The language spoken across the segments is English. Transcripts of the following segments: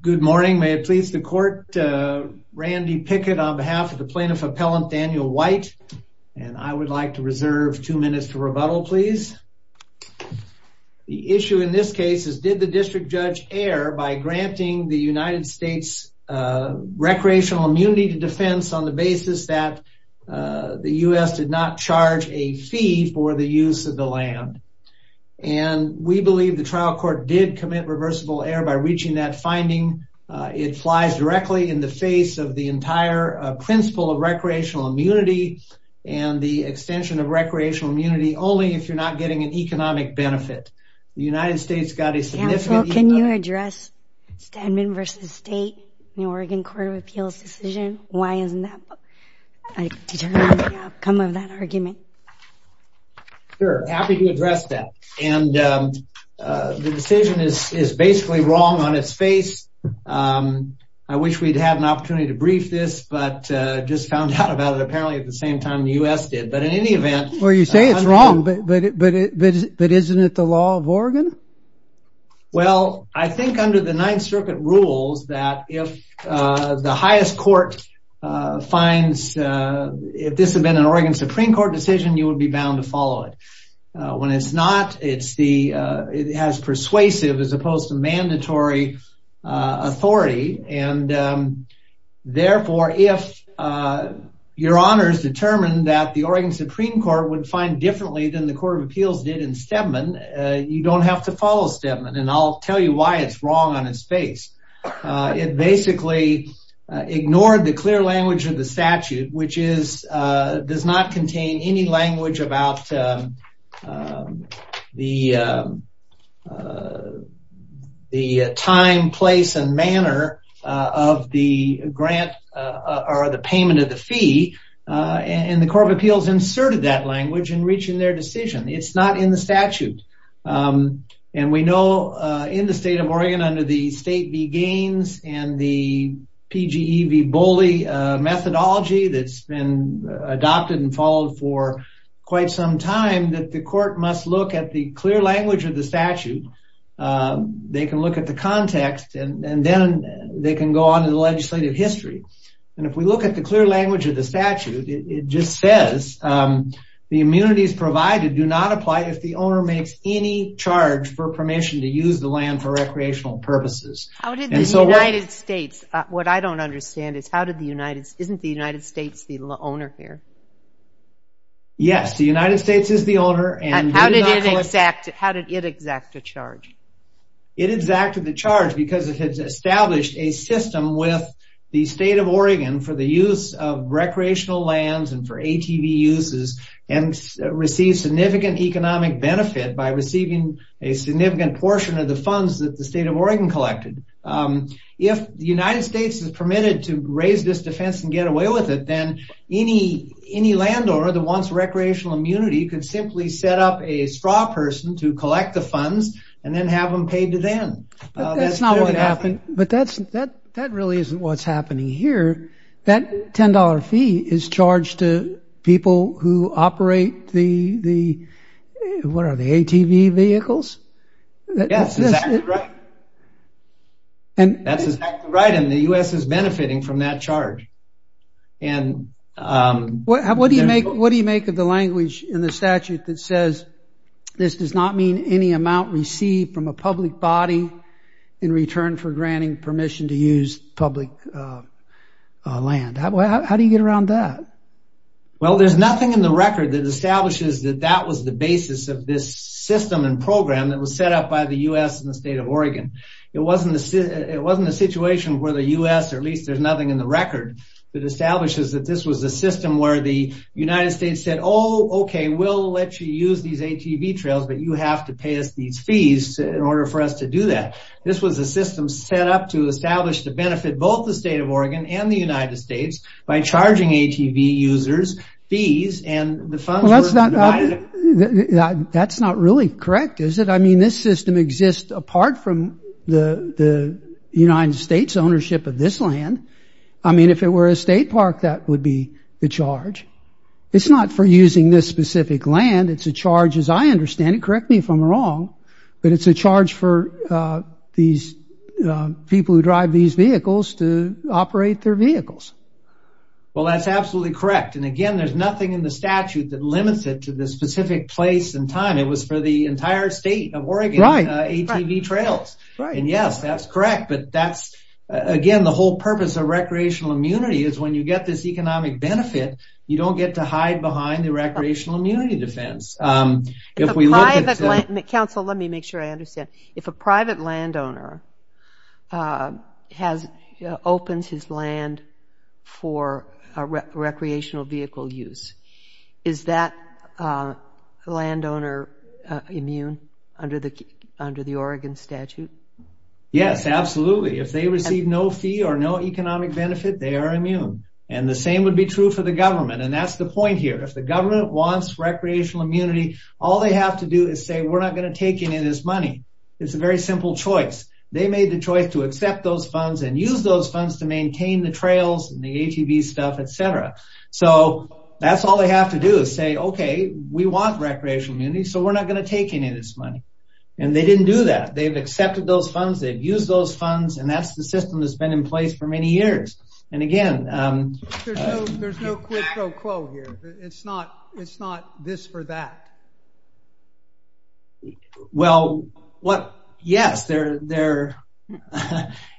Good morning. May it please the court. Randy Pickett on behalf of the plaintiff appellant, Daniel White, and I would like to reserve two minutes to rebuttal, please. The issue in this case is, did the district judge err by granting the United States recreational immunity to defense on the basis that the U.S. did not charge a fee for the use of the land. And we believe the trial court did commit reversible error by reaching that finding. It flies directly in the face of the entire principle of recreational immunity and the extension of recreational immunity only if you're not getting an economic benefit. The United States got a significant... Counsel, can you address Stedman v. State, the Oregon Court of Appeals decision? Why isn't that determined by the outcome of that argument? Sure, happy to address that. And the decision is basically wrong on its face. I wish we'd had an opportunity to brief this, but just found out about it apparently at the same time the U.S. did. But in any event... Well, you say it's wrong, but isn't it the law of Oregon? Well, I think under the Ninth Circuit rules that if the highest court finds, if this had been an Oregon Supreme Court decision, you would be bound to follow it. When it's not, it has persuasive as opposed to mandatory authority. And therefore, if your honors determined that the Oregon Supreme Court would find differently than the Court of Appeals did in Stedman, you don't have to follow Stedman. And I'll tell you why it's wrong on its face. It basically ignored the clear language of the statute, which does not contain any language about the time, place, and manner of the grant or the payment of the fee. And the Court of Appeals inserted that language in reaching their decision. It's not in the statute. And we know in the state of Oregon under the State v. Gaines and the PGE v. Boley methodology that's been adopted and followed for quite some time that the court must look at the clear language of the statute. They can look at the context and then they can go on to the legislative history. And if we look at the clear language of the statute, it just says, the immunities provided do not apply if the owner makes any charge for permission to use the land for recreational purposes. How did the United States, what I don't understand is how did the United States, isn't the United States the owner here? Yes, the United States is the owner. And how did it exact the charge? It exacted the charge because it had established a system with the state of Oregon for the use of recreational lands and for ATV uses and received significant economic benefit by receiving a significant portion of the funds that the state of Oregon collected. If the United States is permitted to raise this defense and get away with it, then any landowner that wants recreational immunity could simply set up a straw person to collect the funds and then have them paid to them. But that's not what happened. But that really isn't what's happening here. That $10 fee is charged to people who operate the, what are they, ATV vehicles? Yes, that's exactly right. And the U.S. is benefiting from that charge. And what do you make of the language in the statute that says this does not mean any amount received from a public body in return for granting permission to use public land? How do you get around that? Well, there's nothing in the record that establishes that that was the basis of this system and program that was set up by the U.S. and the state of Oregon. It wasn't a situation where the U.S., or at least there's nothing in the record that establishes that this was a system where the United States said, oh, okay, we'll let you use these ATV trails, but you have to pay us these fees in order for us to do that. This was a system set up to establish the benefit, both the state of Oregon and the United States, by charging ATV users fees and the funds were divided. That's not really correct, is it? I mean, this system exists apart from the United States ownership of this land. I mean, if it were a state park, that would be the charge. It's not for using this specific land. It's a charge, as I understand it, correct me if I'm wrong, but it's a charge for these people who drive these vehicles to operate their vehicles. Well, that's absolutely correct. And again, there's nothing in the statute that limits it to this specific place and time. It was for the entire state of Oregon ATV trails. And yes, that's correct, but that's, again, the whole purpose of recreational immunity is when you get this economic benefit, you don't get to hide behind the recreational immunity defense. If a private landowner opens his land for recreational vehicle use, is that landowner immune under the Oregon statute? Yes, absolutely. If they receive no fee or no economic benefit, they are immune. And the same would be true for the government. And that's the point here. If the government wants recreational immunity, all they have to do is say, we're not going to take any of this money. It's a very simple choice. They made the choice to accept those funds and use those funds to maintain the trails and the ATV stuff, etc. So that's all they have to do is say, okay, we want recreational immunity, so we're not going to take any of this money. And they didn't do that. They've accepted those funds, they've used those funds, and that's the system that's been in place for many years. And again, There's no quid pro quo here. It's not this for that. Well, yes, there are.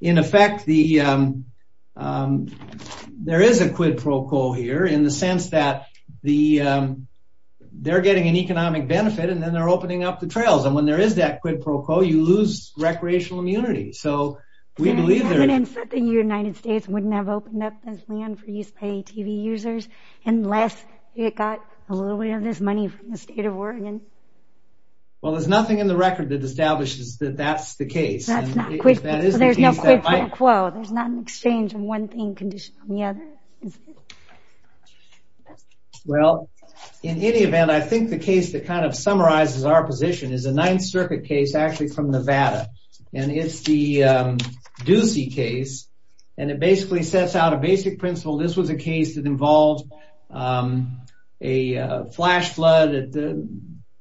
In effect, there is a quid pro quo here in the sense that they're getting an economic benefit, and then they're opening up the trails. And when there is that quid pro quo, you lose recreational immunity. So we believe that the United States wouldn't have opened up this land for use by ATV users, unless it got a little bit of this money from the state of Oregon. Well, there's nothing in the record that establishes that that's the case. There's no quid pro quo. There's not an exchange of one thing conditioned on the other. Well, in any event, I think the case that kind of summarizes our position is a Ninth Circuit case actually from Nevada. And it's the Ducey case. And it basically sets out a basic principle. This was a case that involved a flash flood at the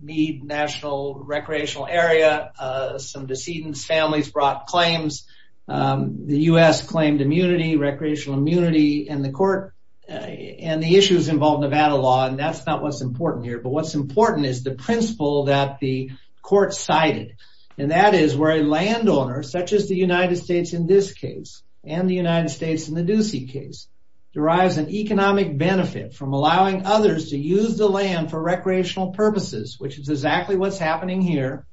Meade National Recreational Area. Some decedents' families brought claims. The U.S. claimed immunity, recreational immunity, and the issues involved in Nevada law. And that's not what's important here. But what's important is the principle that the court cited. And that is where a landowner, such as the United States in this case, and the United States in the Ducey case, derives an economic benefit from allowing others to use the land for recreational purposes, which is exactly what's happening here.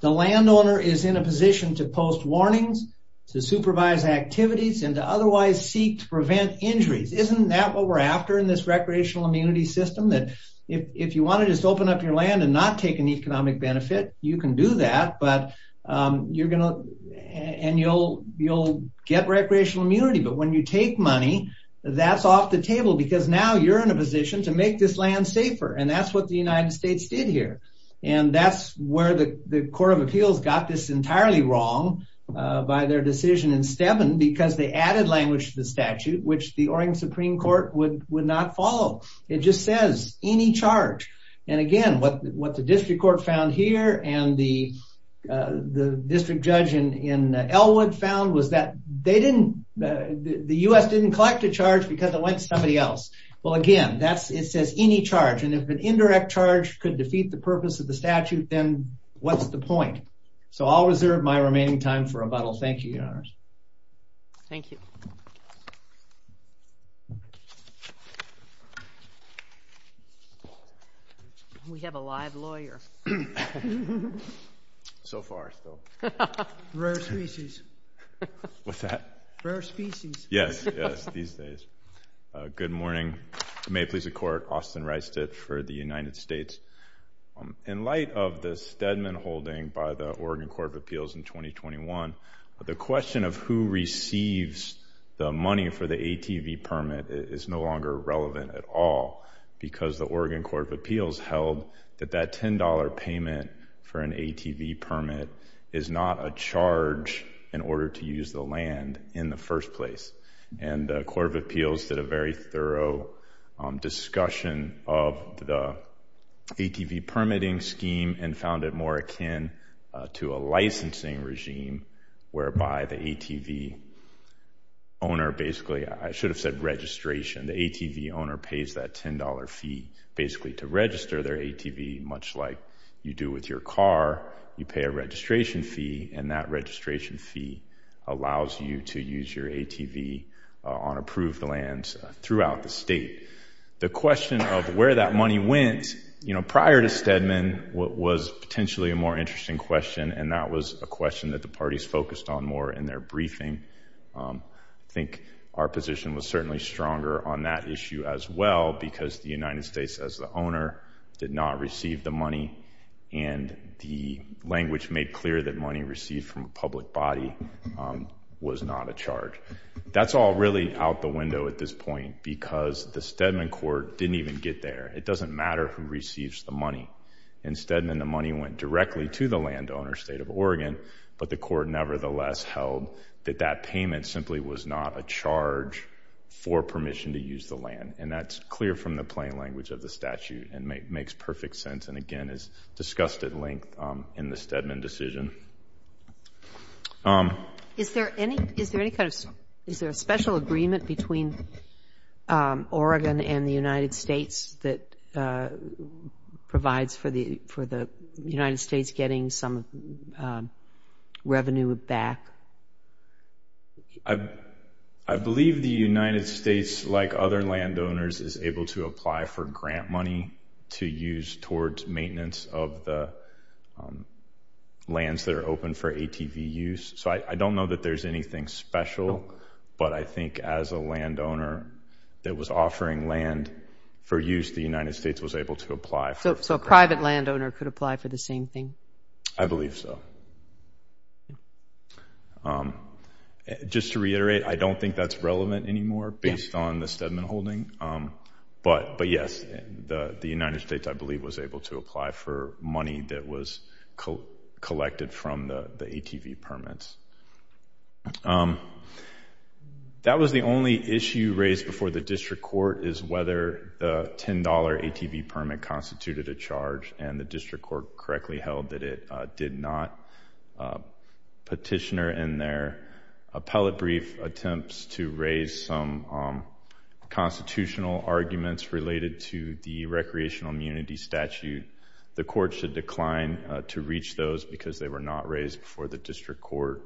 The landowner is in a position to post warnings, to supervise activities, and to otherwise seek to prevent injuries. Isn't that what we're after in this recreational immunity system? That if you want to just open up your land and not take an economic benefit, you can do that. And you'll get recreational immunity. But when you take money, that's off the table. Because now you're in a position to make this land safer. And that's what the United States did here. And that's where the Court of Appeals got this entirely wrong by their decision in Steven, because they added language to the statute, which the Oregon Supreme Court would not follow. It just says, any charge. And again, what the district court found here, and the district judge in Elwood found, was that the US didn't collect a charge because it went to somebody else. Well, again, it says any charge. And if an indirect charge could defeat the purpose of the statute, then what's the point? So I'll reserve my remaining time for rebuttal. Thank you, Your Honors. Thank you. We have a live lawyer. So far, still. Rare species. What's that? Rare species. Yes, yes, these days. Good morning. May it please the Court, Austin Reistich for the United States. In light of the Stedman holding by the Oregon Court of Appeals in 2021, the question of who receives the money for the ATV permit is no longer relevant at all, because the Oregon Court of Appeals held that that $10 payment for an ATV permit is not a charge in order to use the land in the first place. And the Court of Appeals did a very thorough discussion of the ATV permitting scheme and found it more akin to a licensing regime, whereby the ATV owner basically, I should have said registration, the ATV owner pays that $10 fee basically to register their ATV, much like you do with your car. You pay a registration fee, and that registration fee allows you to use your ATV on approved lands throughout the state. The question of where that money went, you know, prior to Stedman, what was potentially a more interesting question, and that was a question that the parties focused on more in their briefing. I think our position was certainly stronger on that issue as well, because the United States as the owner did not receive the money, and the language made clear that money received from a public body was not a charge. That's all really out the window at this point, because the Stedman court didn't even get there. It doesn't matter who receives the money. In Stedman, the money went directly to the landowner, state of Oregon, but the court nevertheless held that that payment simply was not a charge for permission to use the land, and that's clear from the plain language of the statute and makes perfect sense, and again is discussed at length in the Stedman decision. Is there any kind of special agreement between Oregon and the United States that provides for the United States getting some revenue back? I believe the United States, like other landowners, is able to apply for grant money to use towards maintenance of the lands that are open for ATV use, so I don't know that there's anything special, but I think as a landowner that was offering land for use, the United States was able to apply. So a private landowner could apply for the same thing? I believe so. Just to reiterate, I don't think that's relevant anymore based on the Stedman holding, but yes, the United States, I believe, was able to apply for money that was collected from the ATV permits. That was the only issue raised before the district court is whether the $10 ATV permit constituted a charge, and the district court correctly held that it did not. Petitioner in their appellate brief attempts to raise some constitutional arguments related to the recreational immunity statute, the court should decline to reach those because they were not raised before the district court.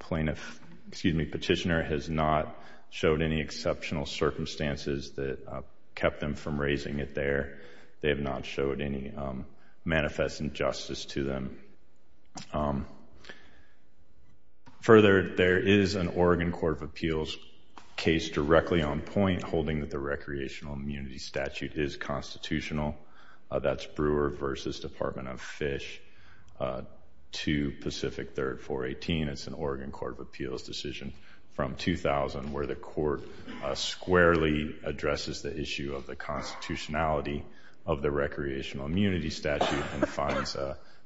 Petitioner has not showed any exceptional circumstances that kept them from raising it there. They have not showed any manifest injustice to them. Further, there is an Oregon Court of Appeals case directly on point holding that the recreational immunity statute is constitutional. That's Brewer versus Department of Fish to Pacific 3rd 418. It's an Oregon Court of Appeals decision from 2000 where the court squarely addresses the issue of the constitutionality of the recreational immunity statute and finds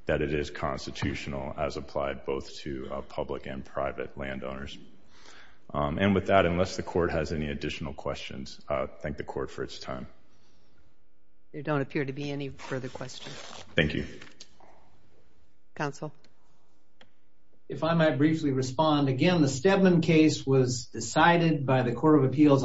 that it is constitutional as applied both to public and private landowners. And with that, unless the court has any additional questions, I thank the court for its time. There don't appear to be any further questions. Thank you. Counsel? If I might briefly respond. Again, the Stedman case was decided by the Court of the plaintiff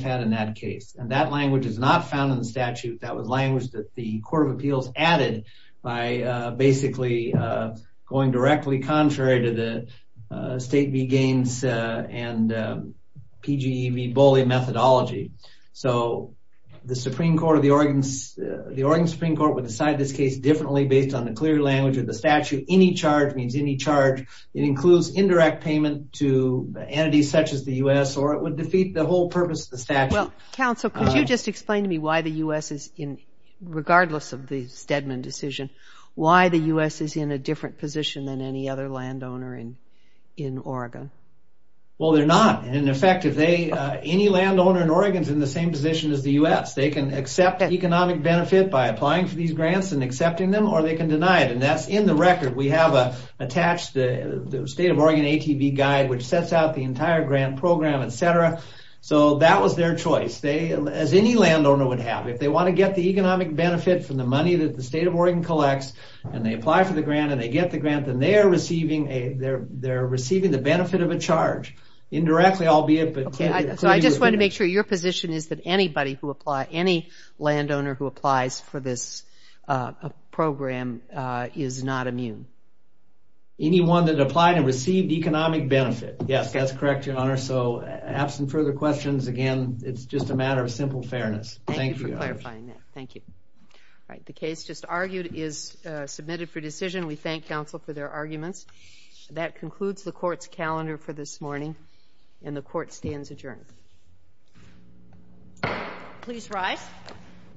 had in that case. That language is not found in the statute. That was language that the Court of Appeals added by basically going directly contrary to the State v. Gaines and PGE v. Boley methodology. The Oregon Supreme Court would decide this case differently based on the clear language of the statute. Any charge means any charge. It includes indirect payment to entities such as the U.S. or it would defeat the whole purpose of the statute. Counsel, could you just explain to me why the U.S., regardless of the Stedman decision, why the U.S. is in a different position than any other landowner in Oregon? Well, they're not. In effect, any landowner in Oregon is in the same position as the U.S. They can accept economic benefit by applying for these grants and accepting them or they can deny it. That's in the record. We have attached the State of Oregon ATB guide which sets out the entire grant program, etc. That was their choice, as any landowner would have. If they want to get the economic benefit from the money that the State of Oregon collects and they apply for the grant and they get the grant, then they're receiving the benefit of a charge. Indirectly, albeit. I just want to make sure your position is that any landowner who applies for this program is not immune. Anyone that applied and received economic benefit. Yes, that's correct, Your Honor. So, absent further questions, again, it's just a matter of simple fairness. Thank you. Thank you for clarifying that. Thank you. All right. The case just argued is submitted for decision. We thank counsel for their arguments. That concludes the Court's calendar for this morning and the Court stands adjourned. Please rise.